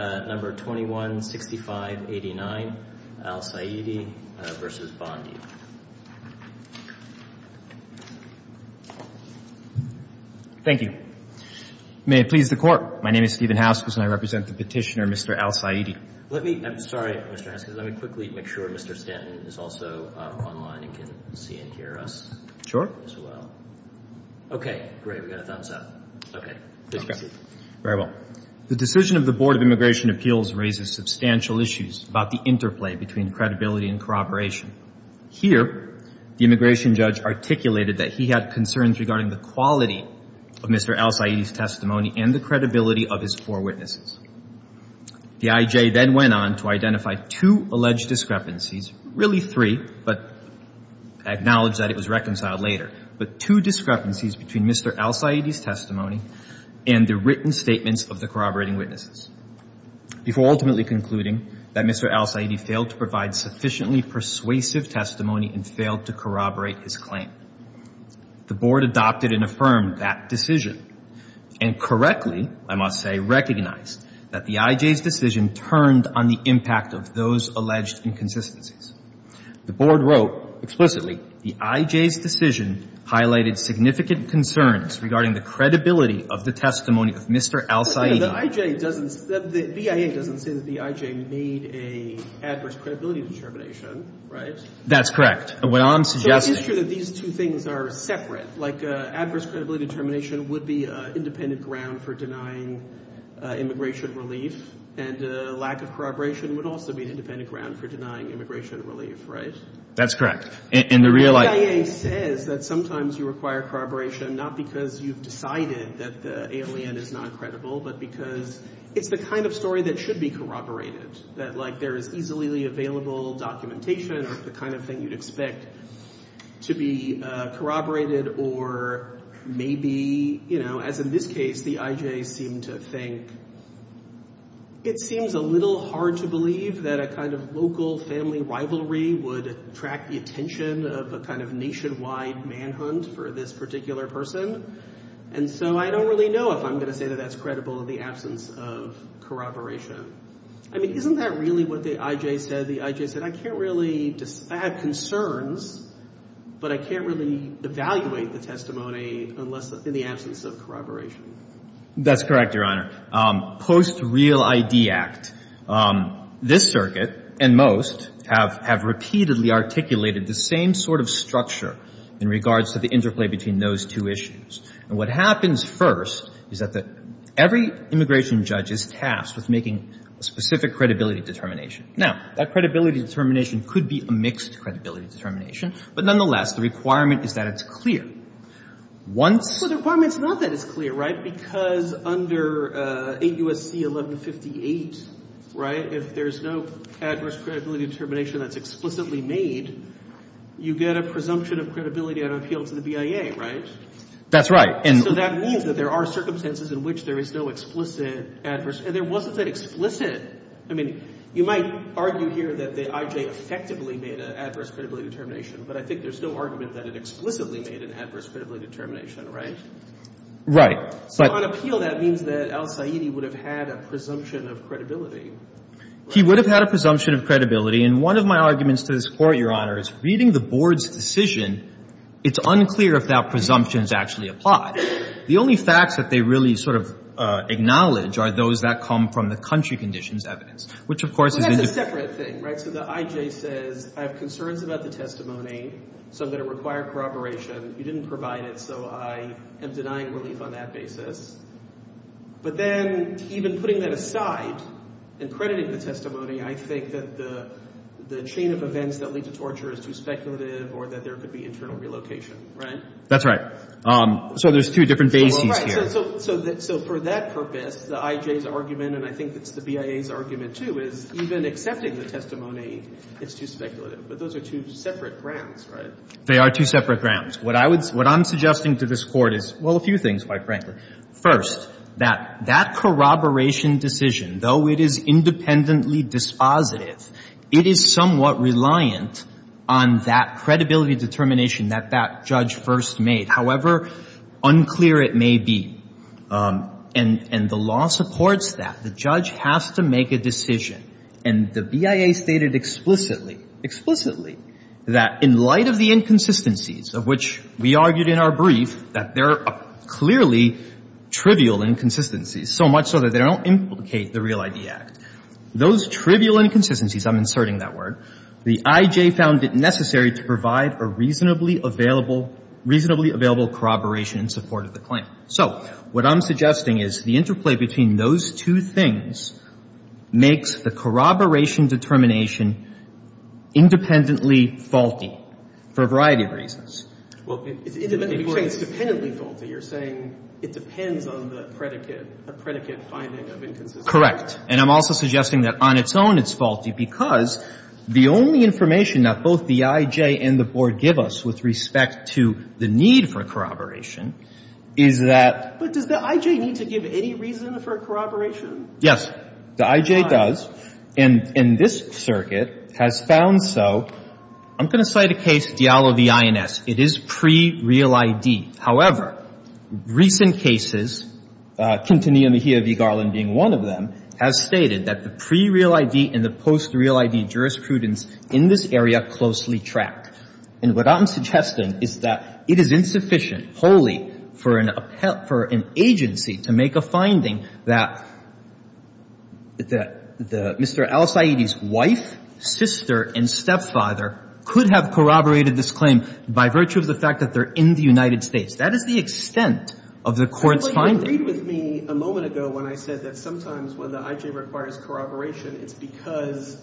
Thank you. May it please the Court, my name is Stephen Haskins and I represent the petitioner Mr. Al Saidi. Let me, I'm sorry Mr. Haskins, let me quickly make sure Mr. Stanton is also online and can see and hear us. Sure. As well. Okay, great, we got a thumbs up. Okay. Very well. The decision of the Board of Immigration Appeals raises substantial issues about the interplay between credibility and corroboration. Here, the immigration judge articulated that he had concerns regarding the quality of Mr. Al Saidi's testimony and the credibility of his four witnesses. The I.J. then went on to identify two alleged discrepancies, really three, but acknowledged that it was reconciled later, but two discrepancies between Mr. Al Saidi's testimony and the written statements of the corroborating witnesses, before ultimately concluding that Mr. Al Saidi failed to provide sufficiently persuasive testimony and failed to corroborate his claim. The Board adopted and affirmed that decision and correctly, I must say, recognized that the I.J.'s decision turned on the impact of those alleged inconsistencies. The Board wrote explicitly the I.J.'s decision highlighted significant concerns regarding the credibility of the testimony of Mr. Al Saidi. The I.J. doesn't, the BIA doesn't say that the I.J. made an adverse credibility determination, right? That's correct. What I'm suggesting... So it's true that these two things are separate, like adverse credibility determination would be an independent ground for denying immigration relief and lack of corroboration would also be an independent ground for denying immigration relief, right? That's correct. And the real... The BIA says that sometimes you require corroboration not because you've decided that the alien is not credible, but because it's the kind of story that should be corroborated, that like there is easily available documentation of the kind of thing you'd expect to be corroborated or maybe, you know, as in this case, the I.J. seemed to think it seems a little hard to believe that a kind of local family rivalry would attract the attention of a kind of nationwide manhunt for this particular person. And so I don't really know if I'm going to say that that's credible in the absence of corroboration. I mean, isn't that really what the I.J. said? The I.J. said, I can't really... I have concerns, but I can't really evaluate the testimony unless in the absence of corroboration. That's correct, Your Honor. Post Real I.D. Act, this circuit and most have repeatedly articulated the same sort of structure in regards to the interplay between those two issues. And what happens first is that every immigration judge is tasked with making a specific credibility determination. Now, that credibility determination could be a mixed credibility determination, but nonetheless, the requirement is that it's clear. Once... Well, the requirement is not that it's clear, right? Because under 8 U.S.C. 1158, right, if there's no adverse credibility determination that's explicitly made, you get a presumption of credibility on appeal to the BIA, right? That's right. And... So that means that there are circumstances in which there is no explicit adverse... And there wasn't that explicit. I mean, you might argue here that the I.J. effectively made an adverse credibility determination, but I think there's no argument that it explicitly made an adverse credibility determination, right? Right. But... So on appeal, that means that Al Saeedi would have had a presumption of credibility. He would have had a presumption of credibility. And one of my arguments to this Court, Your Honor, is reading the Board's decision, it's unclear if that presumption is actually applied. The only facts that they really sort of acknowledge are those that come from the country conditions evidence, which of course is... Well, that's a separate thing, right? So the I.J. says, I have concerns about the testimony, so I'm going to require corroboration. You didn't provide it, so I am denying relief on that basis. But then, even putting that aside and crediting the testimony, I think that the chain of events that lead to torture is too speculative or that there could be internal relocation, right? That's right. So there's two different bases here. Right. So for that purpose, the I.J.'s argument, and I think it's the BIA's argument too, is even accepting the testimony, it's too speculative. But those are two separate grounds, right? They are two separate grounds. What I'm suggesting to this Court is, well, a few things, quite frankly. First, that corroboration decision, though it is independently dispositive, it is somewhat reliant on that credibility determination that that judge first made, however unclear it may be. And the law supports that. The judge has to make a decision, and the BIA stated explicitly, explicitly, that in light of the inconsistencies of which we argued in our brief, that there are clearly trivial inconsistencies, so much so that they don't implicate the Real I.D. Act. Those trivial inconsistencies, I'm inserting that word, the I.J. found it necessary to provide a reasonably available, reasonably available corroboration determination in support of the claim. So what I'm suggesting is the interplay between those two things makes the corroboration determination independently faulty for a variety of reasons. Well, you're saying it's dependently faulty. You're saying it depends on the predicate, a predicate finding of inconsistencies. Correct. And I'm also suggesting that on its own it's faulty because the only information that both the I.J. and the Board give us with respect to the need for corroboration is that — But does the I.J. need to give any reason for corroboration? Yes. The I.J. does, and this circuit has found so. I'm going to cite a case, Diallo v. INS. It is pre-Real I.D. However, recent cases, Quintanilla, Mejia v. Garland being one of them, has stated that the pre-Real I.D. and the post-Real I.D. jurisprudence in this area closely track. And what I'm suggesting is that it is insufficient, wholly, for an agency to make a finding that Mr. Al-Saidi's wife, sister, and stepfather could have corroborated this claim by virtue of the fact that they're in the United States. That is the extent of the Court's finding. Well, you agreed with me a moment ago when I said that sometimes when the I.J. requires corroboration, it's because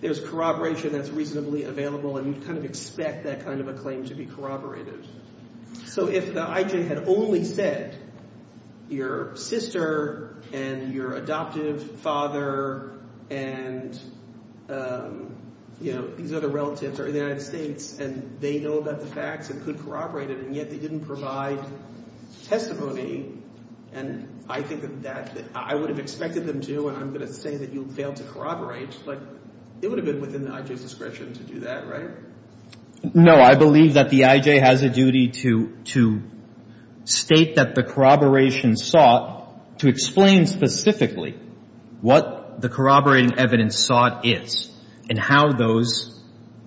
there's corroboration that's reasonably available and you kind of expect that kind of a claim to be corroborated. So if the I.J. had only said your sister and your adoptive father and, you know, these other relatives are in the United States and they know about the facts and could corroborate it, and yet they didn't provide testimony, and I think that I would have expected them to, and I'm going to say that you failed to corroborate, but it would have been within the I.J.'s discretion to do that, right? No. I believe that the I.J. has a duty to state that the corroboration sought to explain specifically what the corroborating evidence sought is and how those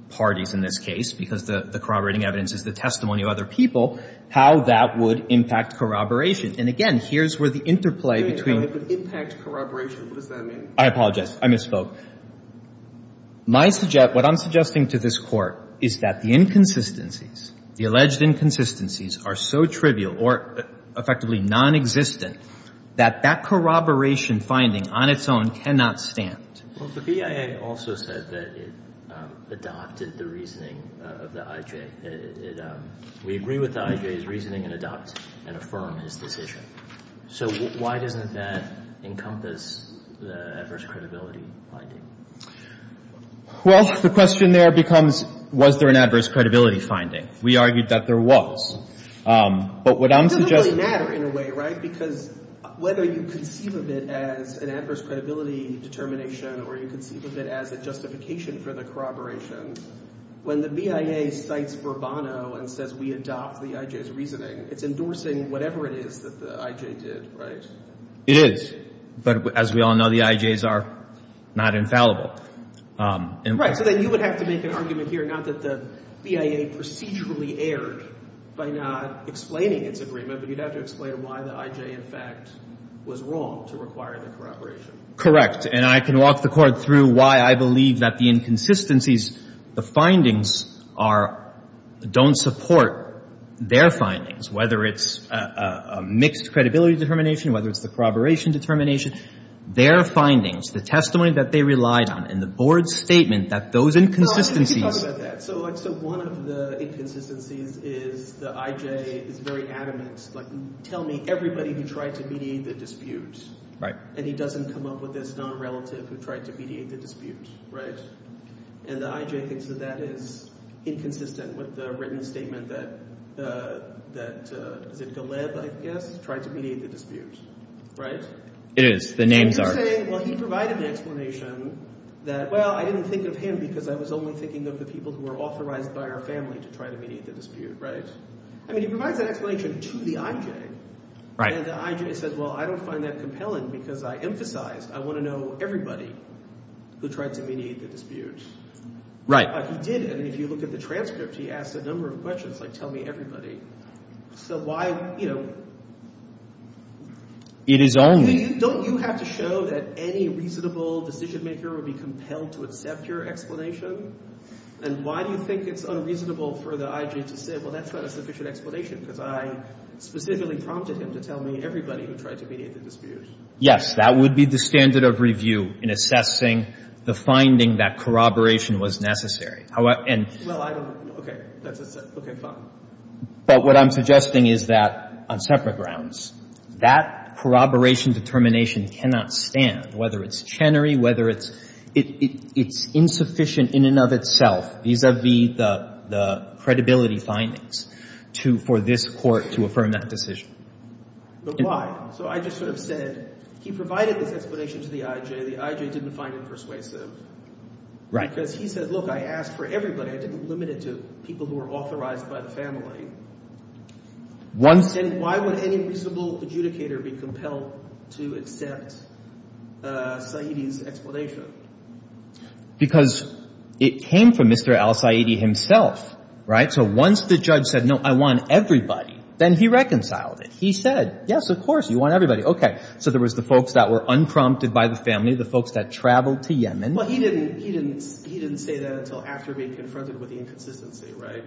parties, in this case, because the corroborating evidence is the testimony of other people, how that would impact corroboration. And, again, here's where the interplay between the... Wait a minute. How would it impact corroboration? What does that mean? I apologize. I misspoke. What I'm suggesting to this Court is that the inconsistencies, the alleged inconsistencies, are so trivial or effectively nonexistent that that corroboration finding on its own cannot stand. Well, the BIA also said that it adopted the reasoning of the I.J. We agree with the I.J.'s reasoning and adopt and affirm his decision. So why doesn't that encompass the adverse credibility finding? Well, the question there becomes, was there an adverse credibility finding? We argued that there was. But what I'm suggesting... It doesn't really matter in a way, right? Because whether you conceive of it as an adverse credibility determination or you conceive of it as a justification for the corroboration, when the BIA cites Bourbano and says we adopt the I.J.'s reasoning, it's endorsing whatever it is that the I.J. did, right? It is. But as we all know, the I.J.'s are not infallible. Right. So then you would have to make an argument here, not that the BIA procedurally erred by not explaining its agreement, but you'd have to explain why the I.J. in fact was wrong to require the corroboration. Correct. And I can walk the Court through why I believe that the inconsistencies, the findings are... don't support their findings, whether it's a mixed credibility determination, whether it's the corroboration determination. Their findings, the testimony that they relied on, and the Board's statement that those inconsistencies... Well, let me talk about that. So one of the inconsistencies is the I.J. is very adamant. Like, tell me everybody who tried to mediate the dispute. Right. And he doesn't come up with his non-relative who tried to mediate the dispute, right? And the I.J. thinks that that is inconsistent with the written statement that... that... is it Galeb, I guess, tried to mediate the dispute, right? It is. The names are... So you're saying, well, he provided an explanation that, well, I didn't think of him because I was only thinking of the people who were authorized by our family to try to mediate the dispute, right? I mean, he provides that explanation to the I.J. Right. And the I.J. says, well, I don't find that compelling because I emphasized, I want to know everybody who tried to mediate the dispute. Right. But he didn't. If you look at the transcript, he asked a number of questions, like, tell me everybody. So why, you know... It is only... Don't you have to show that any reasonable decision maker would be compelled to accept your explanation? And why do you think it's unreasonable for the I.J. to say, well, that's not a sufficient explanation because I specifically prompted him to tell me everybody who tried to mediate the dispute? Yes. That would be the standard of review in assessing the finding that corroboration was necessary. And... Well, I don't... Okay. That's a... Okay, fine. But what I'm suggesting is that, on separate grounds, that corroboration determination cannot stand, whether it's Chenery, whether it's insufficient in and of itself vis-à-vis the credibility findings for this Court to affirm that decision. But why? So I just sort of said, he provided this explanation to the I.J., the I.J. didn't find it persuasive. Right. Because he said, look, I asked for everybody. I didn't limit it to people who were authorized by the family. Once... And why would any reasonable adjudicator be compelled to accept Saidi's explanation? Because it came from Mr. Al-Saidi himself, right? So once the judge said, no, I want everybody, then he reconciled it. He said, yes, of course, you want everybody. Okay. So there was the folks that were unprompted by the family, the folks that traveled to Yemen. Well, he didn't say that until after being confronted with the inconsistency, right?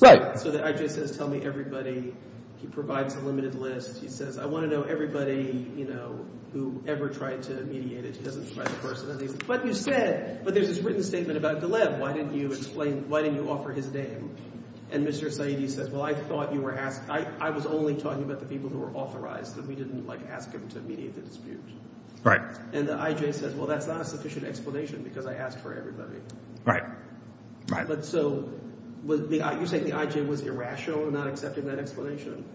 Right. So the I.J. says, tell me everybody. He provides a limited list. He says, I want to know everybody, you know, who ever tried to mediate it. He doesn't try the personalities. But you said... But there's this written statement about Galeb. Why didn't you explain... Why didn't you offer his name? And Mr. Saidi says, well, I thought you were asking... I was only talking about the people who were authorized that we didn't, like, ask him to mediate the dispute. Right. And the I.J. says, well, that's not a sufficient explanation because I asked for everybody. Right. Right. But so, you're saying the I.J. was irrational in not accepting that explanation?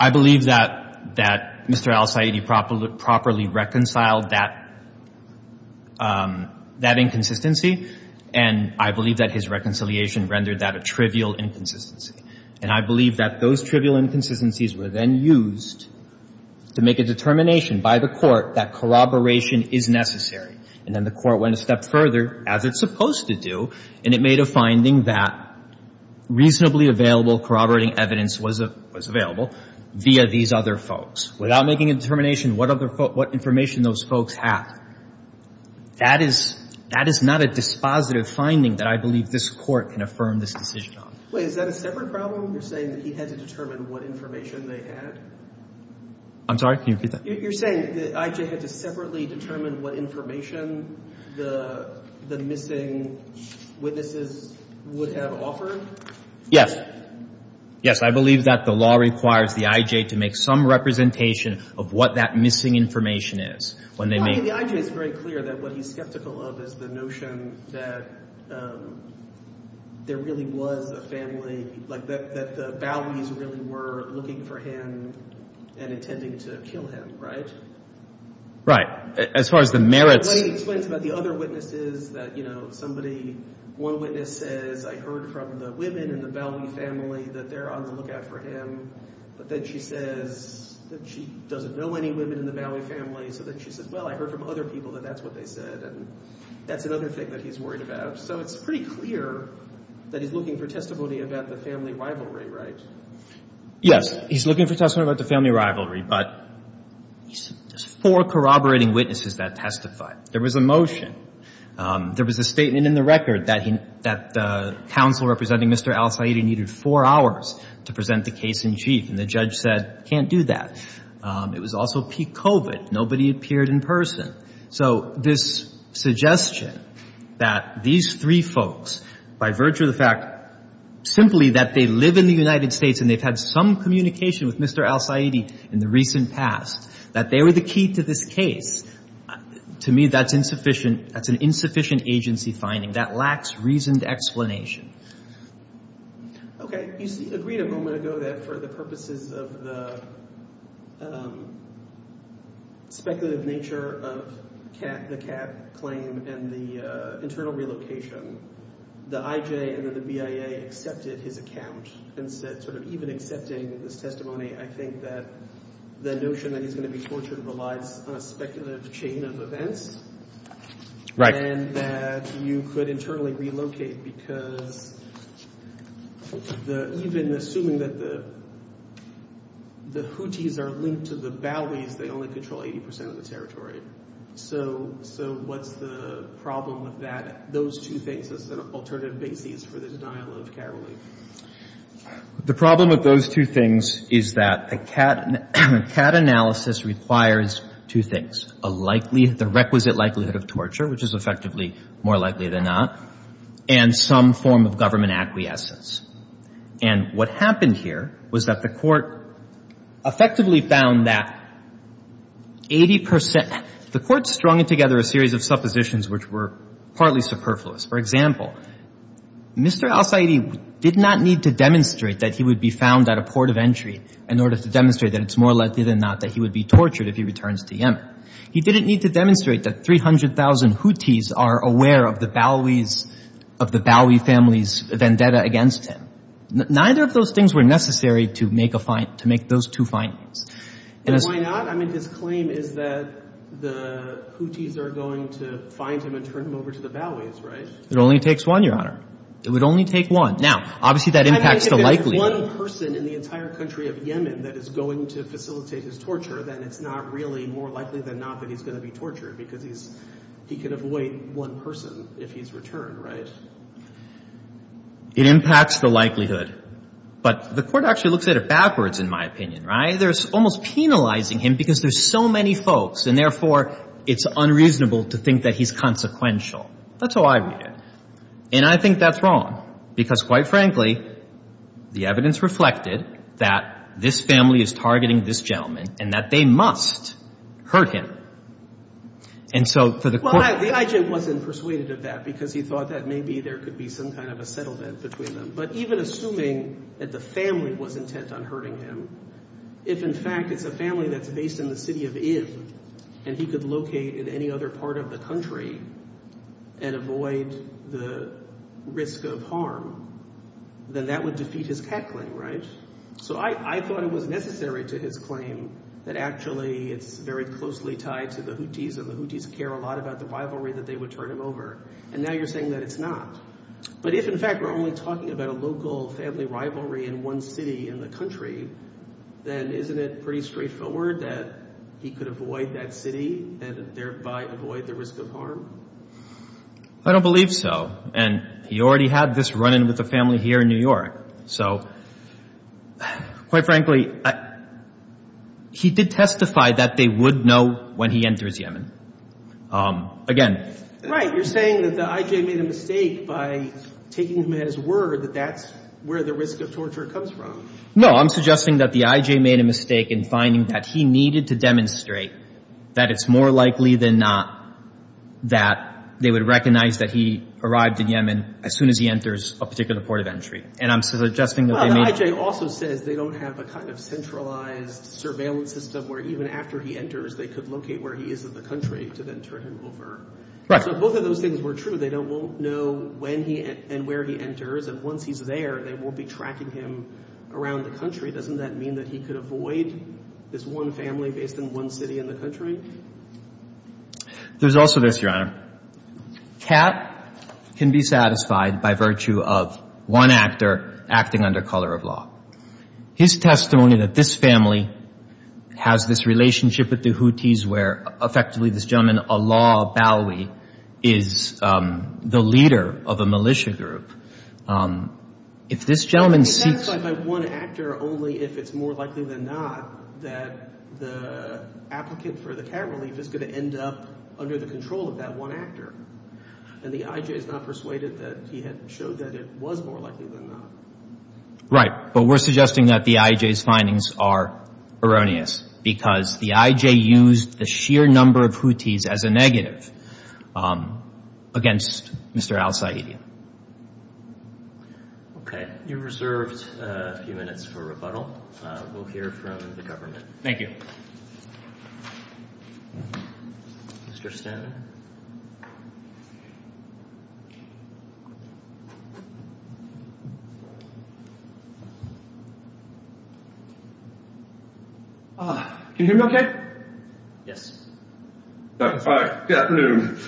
I believe that Mr. Al-Saidi properly reconciled that inconsistency. And I believe that his reconciliation rendered that a trivial inconsistency. And I believe that those trivial inconsistencies were then used to make a determination by the Court that corroboration is necessary. And then the Court went a step further, as it's supposed to do, and it made a finding that reasonably available corroborating evidence was available via these other folks. Without making a determination, what information do those folks have? That is not a dispositive finding that I believe this Court can affirm this decision on. Wait. Is that a separate problem? You're saying that he had to determine what information they had? I'm sorry? Can you repeat that? You're saying that I.J. had to separately determine what information the missing witnesses would have offered? Yes. Yes. I believe that the law requires the I.J. to make some representation of what that missing information is when they make... Well, I mean, the I.J. is very clear that what he's skeptical of is the notion that there really was a family, like that the Bowies really were looking for him and intending to kill him, right? Right. As far as the merits... Well, he explains about the other witnesses that, you know, somebody, one witness says, I heard from the women in the Bowie family that they're on the lookout for him. But then she says that she doesn't know any women in the Bowie family. So then she says, well, I heard from other people that that's what they said. That's another thing that he's worried about. So it's pretty clear that he's looking for testimony about the family rivalry, right? Yes. He's looking for testimony about the family rivalry, but there's four corroborating witnesses that testified. There was a motion. There was a statement in the record that the counsel representing Mr. Al Saeed needed four hours to present the case in chief, and the judge said, can't do that. It was also peak COVID. Nobody appeared in person. So this suggestion that these three folks, by virtue of the fact simply that they live in the United States and they've had some communication with Mr. Al Saeed in the recent past, that they were the key to this case, to me, that's insufficient. That's an insufficient agency finding. That lacks reasoned explanation. Okay. You agreed a moment ago that for the purposes of the speculative nature of the Kat claim and the internal relocation, the IJ and then the BIA accepted his account and said sort of even accepting this testimony, I think that the notion that he's going to be tortured relies on a speculative chain of events and that you could internally relocate because even assuming that the Houthis are linked to the Baois, they only control 80% of the territory. So what's the problem with that, those two things as an alternative basis for the denial of Kat relief? The problem with those two things is that the Kat analysis requires two things. A likely, the requisite likelihood of torture, which is effectively more likely than not, and some form of government acquiescence. And what happened here was that the court effectively found that 80%... The court strung together a series of suppositions which were partly superfluous. For example, Mr. al-Saidi did not need to demonstrate that he would be found at a port of entry in order to demonstrate that it's more likely than not that he would be tortured if he returns to Yemen. He didn't need to demonstrate that 300,000 Houthis are aware of the Baois, of the Baoi family's vendetta against him. Neither of those things were necessary to make those two findings. And why not? I mean, his claim is that the Houthis are going to find him and turn him over to the Baois, right? It only takes one, Your Honor. It would only take one. Now, obviously, that impacts the likelihood. If there's one person in the entire country of Yemen that is going to facilitate his torture, then it's not really more likely than not that he's going to be tortured because he's, he could avoid one person if he's returned, right? It impacts the likelihood. But the court actually looks at it backwards, in my opinion, right? They're almost penalizing him because there's so many folks and, therefore, it's unreasonable to think that he's consequential. That's how I read it. And I think that's wrong because, quite frankly, the evidence reflected that this family is targeting this gentleman and that they must hurt him. And so for the court... Well, the IJ wasn't persuaded of that because he thought that maybe there could be some kind of a settlement between them. But even assuming that the family was intent on hurting him, if, in fact, it's a family that's based in the city of Ib and he could locate in any other part of the country and avoid the risk of harm, then that would defeat his cat claim, right? So I thought it was necessary to his claim that, actually, it's very closely tied to the Houthis and the Houthis care a lot about the rivalry that they would turn him over. And now you're saying that it's not. But if, in fact, we're only talking about a local family rivalry in one city in the country, then isn't it pretty straightforward that he could avoid that city and thereby avoid the risk of harm? I don't believe so. And he already had this run-in with the family here in New York. So, quite frankly, he did testify that they would know when he enters Yemen. Again... Right. You're saying that the I.J. made a mistake by taking him at his word that that's where the risk of torture comes from. No, I'm suggesting that the I.J. made a mistake in finding that he needed to demonstrate that it's more likely than not that they would recognize that he arrived in Yemen as soon as he enters a particular port of entry. And I'm suggesting that they made... Well, the I.J. also says they don't have a kind of centralized surveillance system where even after he enters, they could locate where he is in the country to then turn him over. Right. So if both of those things were true, they won't know when and where he enters. And once he's there, they won't be tracking him around the country. Doesn't that mean that he could avoid this one family based in one city in the country? There's also this, Your Honor. Kat can be satisfied by virtue of one actor acting under color of law. His testimony that this family has this relationship with the Houthis where effectively this gentleman, Allah Bawi, is the leader of a militia group. If this gentleman seeks... He can be satisfied by one actor only if it's more likely than not that the applicant for the cat relief is going to end up under the control of that one actor. And the I.J. is not persuaded that he had showed that it was more likely than not. Right. But we're suggesting that the I.J.'s findings are erroneous because the I.J. used the sheer number of Houthis as a negative against Mr. Al Saeedian. Okay. You're reserved a few minutes for rebuttal. We'll hear from the government. Thank you. Mr. Stanton? Ah. Can you hear me okay? Yes. All right. Good afternoon.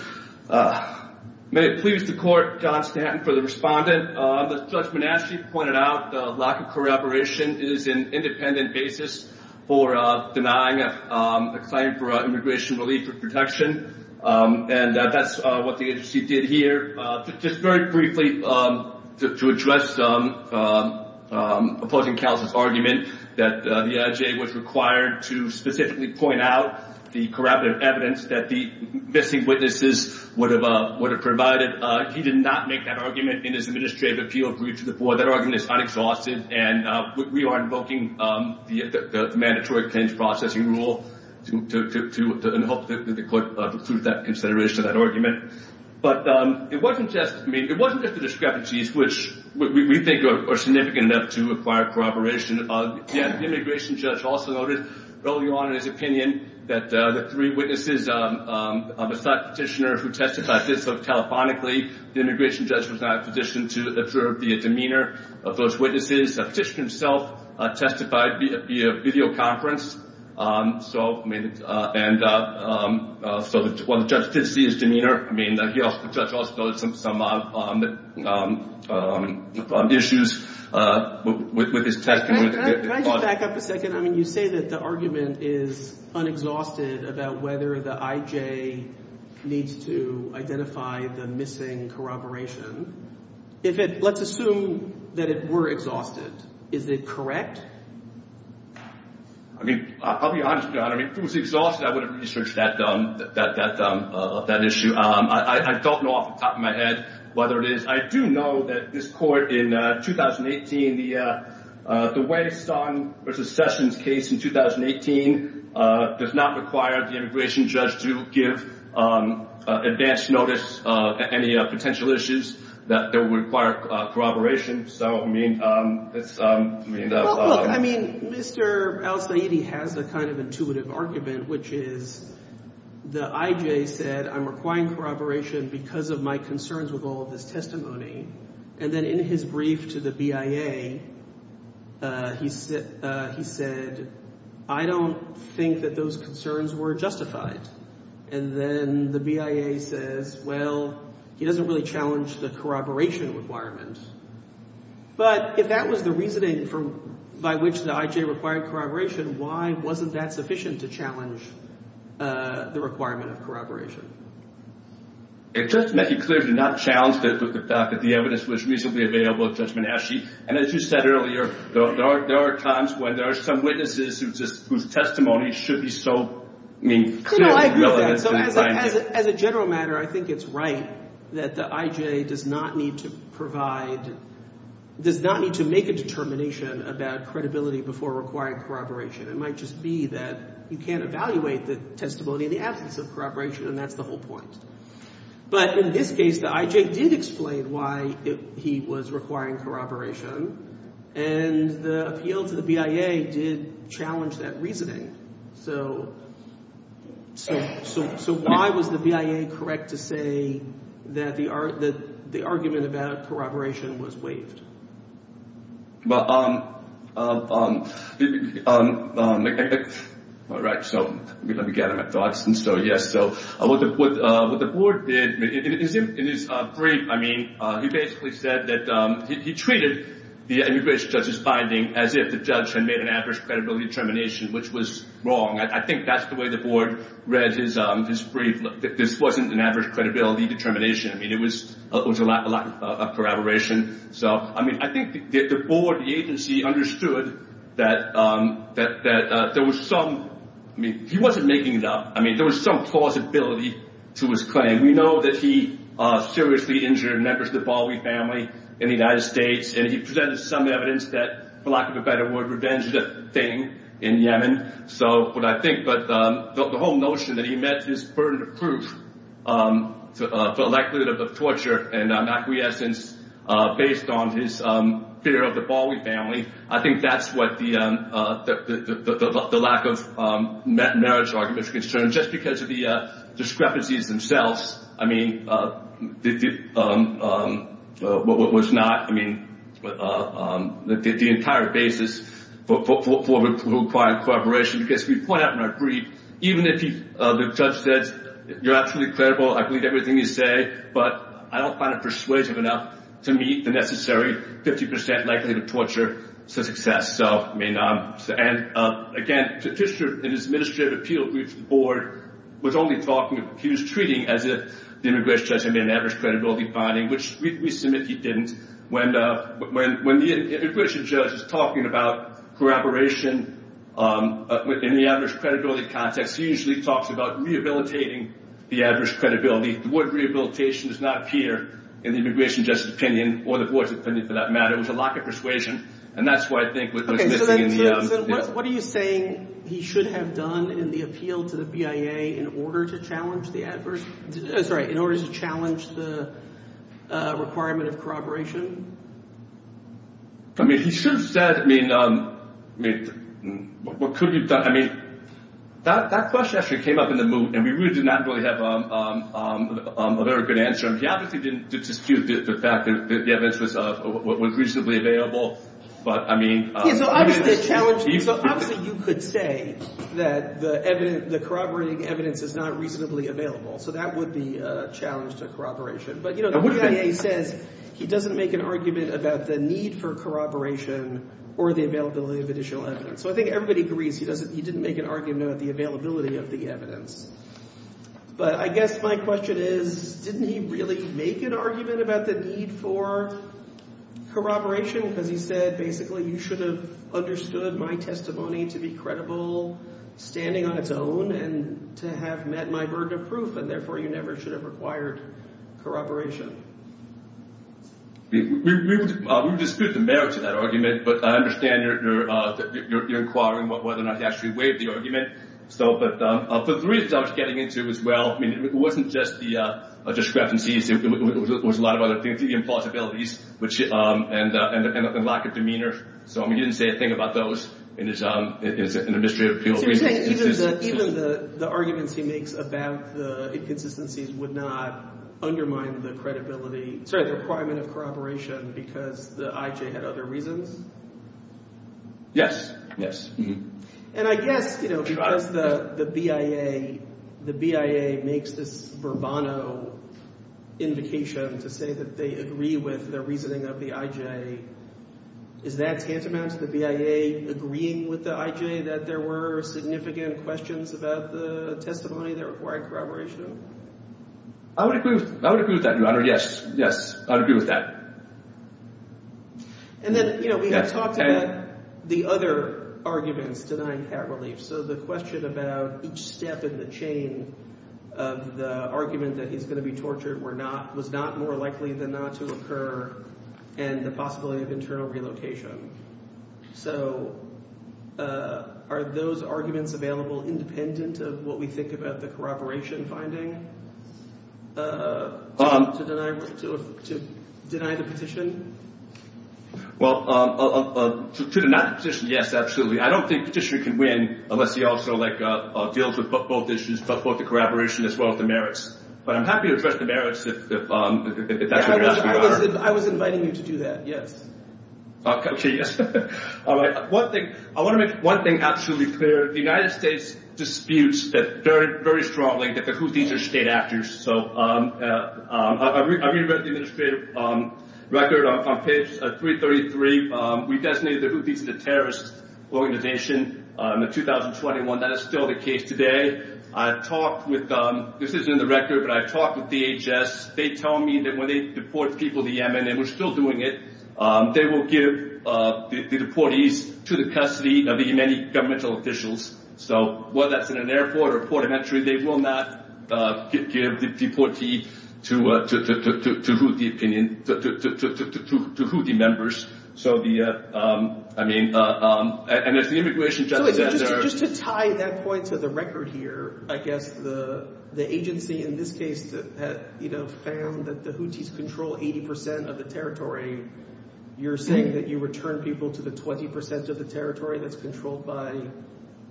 May it please the court John Stanton for the respondent. As Judge Manaschi pointed out, the lack of corroboration is an independent basis for denying a claim for immigration relief or protection. And that's what the agency did here. Just very briefly, to address opposing counsel's that the I.J. was required to specifically point out the corroborative evidence that the missing witnesses would have provided. He did not make that argument in his administrative appeal brief to the board. That argument is unexhausted and we are invoking the mandatory claims processing rule in the hope that the court would include that consideration in that argument. But it wasn't just the discrepancies which we think are significant enough to require corroboration. The immigration judge also noted early on in his opinion that the three witnesses on the side of the petitioner who testified telephonically the immigration judge was not in a position to observe the demeanor of those witnesses. The petitioner himself testified via video conference. while the judge did see his testimony clear. The judge also noted some issues with his testimony. Can I just back up a second? You say that the argument is unexhausted about whether the IJ needs to the missing corroboration. Let's assume that it were exhausted. Is it correct? I'll be honest John. If it was exhausted I would have issue. I don't know off the top of my head whether it is. I do know that this court in 2018 the way it's done versus Sessions case in 2018 does not require the immigration judge to give advanced notice of any potential issues that would require corroboration. If so I mean that's I mean Mr. Al Saidi has a kind of argument which is the IJ said I'm requiring corroboration because of my concerns with all of this testimony and then in his brief to the BIA he said I don't think that those concerns were justified and then the BIA says well he doesn't really challenge the corroboration requirement but if that was the reasoning by which the IJ required corroboration why wasn't that sufficient to challenge the requirement of corroboration? Just to make it clear to not challenge the fact that the evidence was reasonably available Judge I agree with that as a general matter I think it's right that the IJ does not need to provide does not need to make a determination about credibility before requiring corroboration it might just be that you can't evaluate the testimony in the absence of corroboration and that's the whole point but in this case the IJ did explain why he was requiring corroboration and the appeal to the BIA did challenge that reasoning so why was the BIA correct to say that the argument about corroboration was waived? Alright so let me get out of my thoughts and so yes what the board did in his brief he basically said that he treated the immigration judge's as if the judge had made an adverse credibility determination which was wrong I think that's the way the read his brief this wasn't an adverse credibility determination it was a lack of corroboration I think the board the agency understood that there was some he wasn't making it up there was some plausibility to his claim we know that he seriously injured members of the family in the United States and he presented some evidence that for lack of a better word revenge is a thing in Yemen so what I think the whole notion that he met his burden of proof for the likelihood of torture and acquiescence based on his fear of the Bowie family I think that's what the lack of marriage arguments concerned just because of the discrepancies themselves I mean what was not I mean the entire basis for requiring cooperation because we point out in our brief even if the judge says you're absolutely credible I believe everything you say but I don't find it persuasive enough to meet the necessary 50 percent likelihood of torture to success so I mean and again in his administrative appeal brief the board was only talking he was treating as if the immigration judge had made an adverse credibility finding which we submit he didn't when the immigration judge is talking about cooperation in the adverse credibility context he usually talks about rehabilitating the adverse credibility the word rehabilitation does not appear in the immigration judge's or the board's for that matter it was a lack of persuasion and that's what I think was missing in the what are you saying he should have done in the appeal to the BIA in order to challenge the requirement of corroboration I mean he should have said I mean what could be done I mean that question actually came up in the moot and we really did not really have a very good answer he obviously didn't dispute the fact that the evidence was reasonably available but I mean so obviously you could say that the the corroborating evidence is not reasonably available so that would be a challenge to corroboration but you know the BIA says he doesn't make an argument about the need for corroboration or the availability of additional evidence so I think everybody agrees he doesn't he didn't make an argument about the availability of the evidence but I guess my question is didn't he have met my burden of proof and therefore you never should have required corroboration we dispute the merits of that but I understand your inquiring whether or not he actually waived the argument so but for the reasons I was getting into as well it wasn't just the evidence about the inconsistencies would not undermine the credibility sorry the requirement of corroboration because the IJ had other reasons yes yes and I guess because the BIA makes this verbano invocation to say that they agree with their reasoning of the IJ is that tantamount to the BIA agreeing with the IJ that there were significant questions about the testimony that required corroboration I would agree with that your honor yes yes I would agree with that and then you know we have talked about the other arguments denying pat relief so the question about each step in the chain of the that he's going to be was not more likely than not to occur and the possibility of internal relocation so are those arguments available independent of what we think about the corroboration finding to deny to deny the petition well to deny the petition yes absolutely I don't think the petitioner can win unless he also deals with both issues both the corroboration as well as the merits but I'm happy to address the merits if that's what you're asking for I was inviting you to do that yes okay yes alright one thing I want to make one thing absolutely clear the United States disputes very strongly that the Houthis are state actors so I read the administrative record on page 333 we designated the Houthis as a terrorist organization in 2021 that is still the case today I talked with this isn't in the record but I talked with DHS they tell me that when they deport people to Yemen and they were still doing it they will give the deportees to the custody of the Houthi governmental officials so whether that's in an airport or port of entry they will not give the deportees to Houthi opinion to Houthi members so the I mean and if the immigration judge just to tie that point to the record here I guess the agency in this case had found that the Houthis control 80% of the territory you're saying that you return people to the 20% of the territory that's controlled by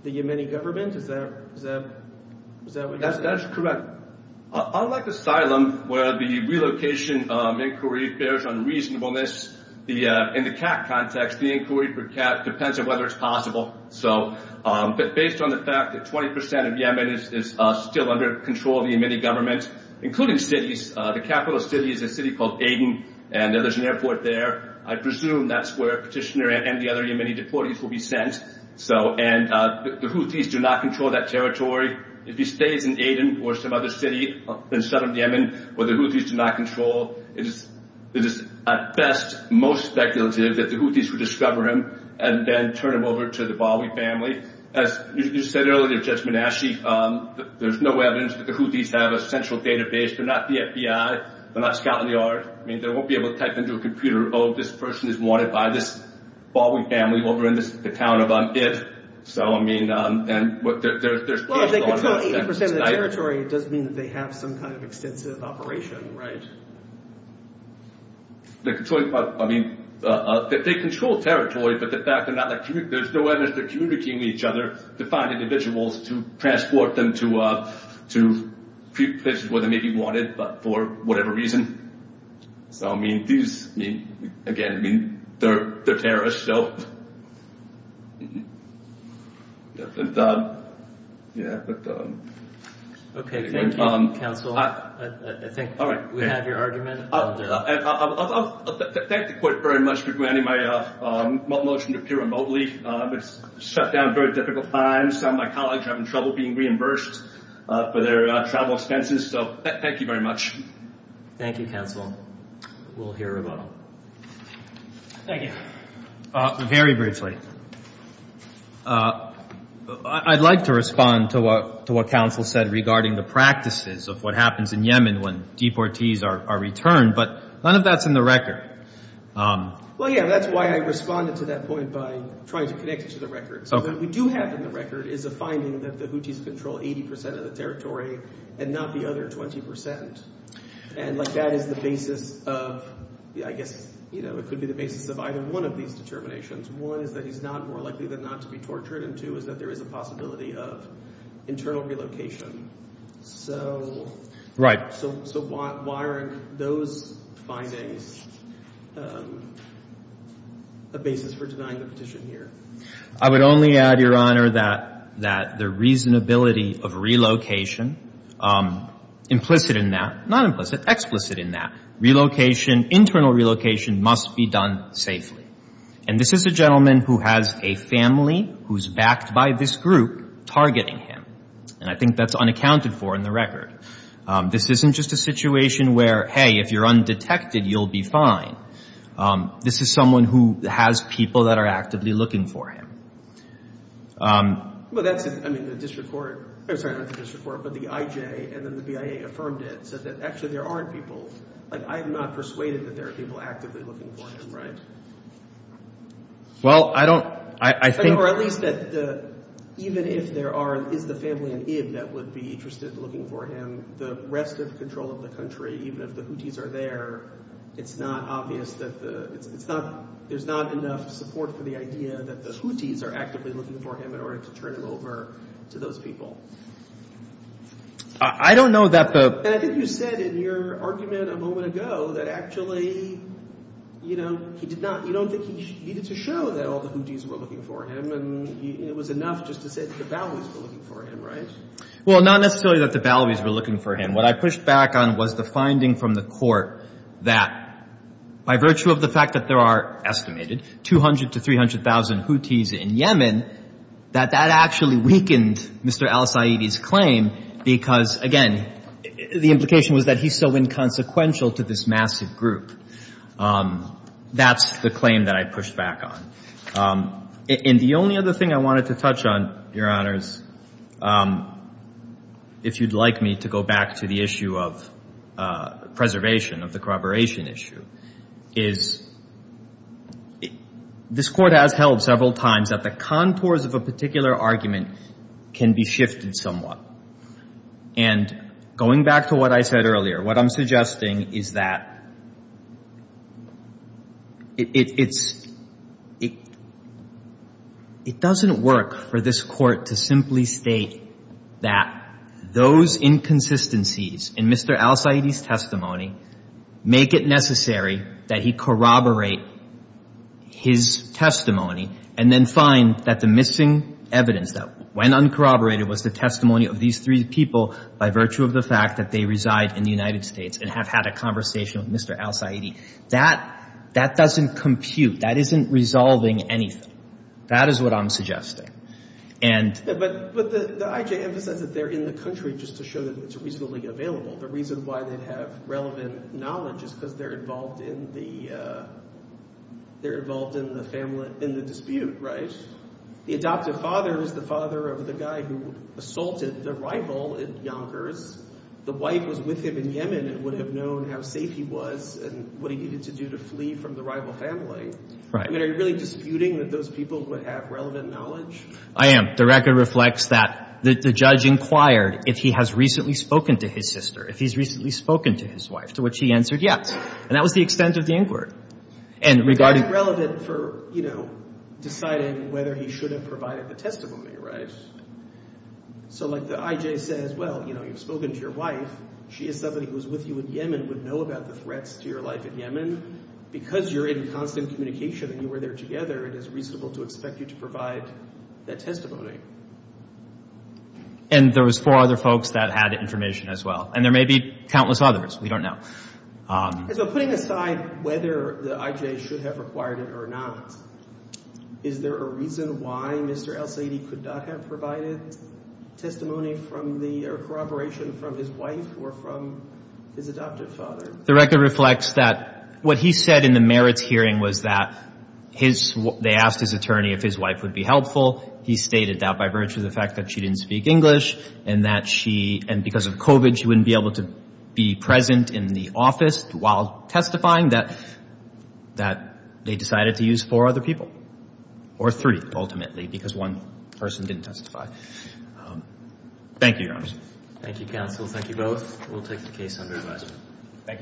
the Yemeni government is that is that that's correct unlike asylum where the relocation inquiry bears unreasonableness in the cat context the inquiry for cat depends on whether it's possible so based on the fact that 20% of Yemen is still under control of the Yemeni government including cities the capital of the city is a city called Aden and there's an airport there I presume that's where petitioner and the other Yemeni deportees will be sent so and the Houthis do not control that territory if he stays in Aden or some other city in southern Yemen where the Houthis do not control it is at best most speculative that the Houthis will discover him and then turn him over to the Bawi family as you said earlier Judge there's no evidence that the Houthis have a central database they're not the FBI they're not Scotland Yard I mean they won't be able to type into a computer oh this person is wanted by this Bawi family over in the town of Id so I mean and there's well they control 80% of the territory it doesn't mean they have some kind of extensive operation right they control I mean they control territory but the fact they're not there's no evidence they're communicating with each other to find individuals to transport them to places where they may be wanted but for whatever reason so I mean these again I mean they're terrorists so but yeah but okay thank you I think we have your argument I'll thank the court very much for granting my motion to appear remotely it's shut down very difficult times some of my colleagues are having trouble being reimbursed for their travel expenses so thank you very much thank you counsel we'll hear about them thank you very briefly I'd like to respond to what to what counsel said regarding the practices of what happens in Yemen when deportees are returned but none of that's in the record well yeah that's why I responded to that point by trying to connect it to the record so what we do have in the record is a finding that the Houthis control 80% of the territory and not the other 20% and like that is the basis of I guess you know it could be the basis of either one of these determinations one is that he's not more likely than not to be tortured and two is that there is a possibility of internal relocation so right so why are those findings a basis for denying the petition here I would only add your honor that that the reasonability of relocation implicit in that not implicit explicit in that relocation internal relocation must be done safely and this is a gentleman who has a family who's backed by this group targeting him and I think that's unaccounted for in the record this isn't just a situation where hey if you're undetected you'll be fine this is someone who has people that are actively looking for him well that's I mean the district court I'm sorry not the district court but the IJ and then the BIA affirmed it said that actually there aren't people like I have not persuaded that there are people actively looking for him right well I don't I think or at least that the even if there are is the family that would be interested in looking for him the rest of control of the country even if the Houthis are there it's not obvious that the it's not there's not enough support for the idea that the Houthis are actively looking for him in order to turn him over to those people I don't know that the I think you said in your argument a moment ago that actually you know he did not you don't think he needed to show that all the Houthis were looking for him and it was enough just to say that the Balwis were looking for him right well not necessarily that the Balwis were looking for him what I pushed back on was the finding from the court that by virtue of the fact that there are estimated 200 to 300 thousand Houthis in Yemen that that actually weakened Mr. Al Saeedi's because again the implication was that he's so inconsequential to this massive group that's the claim that I pushed back on and the only other thing I wanted to touch on your honors if you'd like me to go back to the issue of preservation of the corroboration issue is this court has held several times that the contours of a particular argument can be shifted somewhat and going back to what I said earlier what I'm suggesting is that it's it it doesn't work for this court to simply state that those inconsistencies in Mr. Al Saeedi's make it necessary that he corroborate his testimony and then find that the missing evidence that was when uncorroborated was the testimony of these three people by virtue of the fact that they reside in the United States and have had a conversation with Mr. Al Saeedi that that doesn't compute that isn't resolving anything that is what I'm suggesting and but the the IJ emphasizes that they're in the country just to show that it's reasonably available the reason why they have relevant knowledge is because they're involved in the they're involved in the family in the dispute right the adoptive father is the father of the guy who assaulted the rival Yonkers the wife was with him in Yemen and would have known how safe he was and what he needed to do to flee from the rival family are you really disputing that those people would have relevant knowledge I am the record reflects that the judge inquired if he has recently spoken to his sister if he's recently spoken to his wife to which he answered yes and that was the extent of the inquiry and regarding relevant for you know deciding whether he should have provided the testimony right so like the IJ says well you know you've spoken to your wife she is somebody who's with you in Yemen would know about the threats to your life in Yemen because you're in constant communication and you were there together it is reasonable to expect you to provide that testimony and there was four other folks that had information as well and there may be countless others we don't know and so putting aside whether the IJ should have required it or not is there a reason why Mr. El-Sayed could not have provided testimony from the record reflects that what he said in the merits hearing was that his they asked his attorney if his wife would be helpful he stated that by virtue of the fact that she didn't speak English and that she and because of COVID she wouldn't be able to be present in the office while testifying that that they decided to use four other people or three ultimately because one person didn't testify thank you your honor thank you counsel thank you both we'll take the case under advisement thank you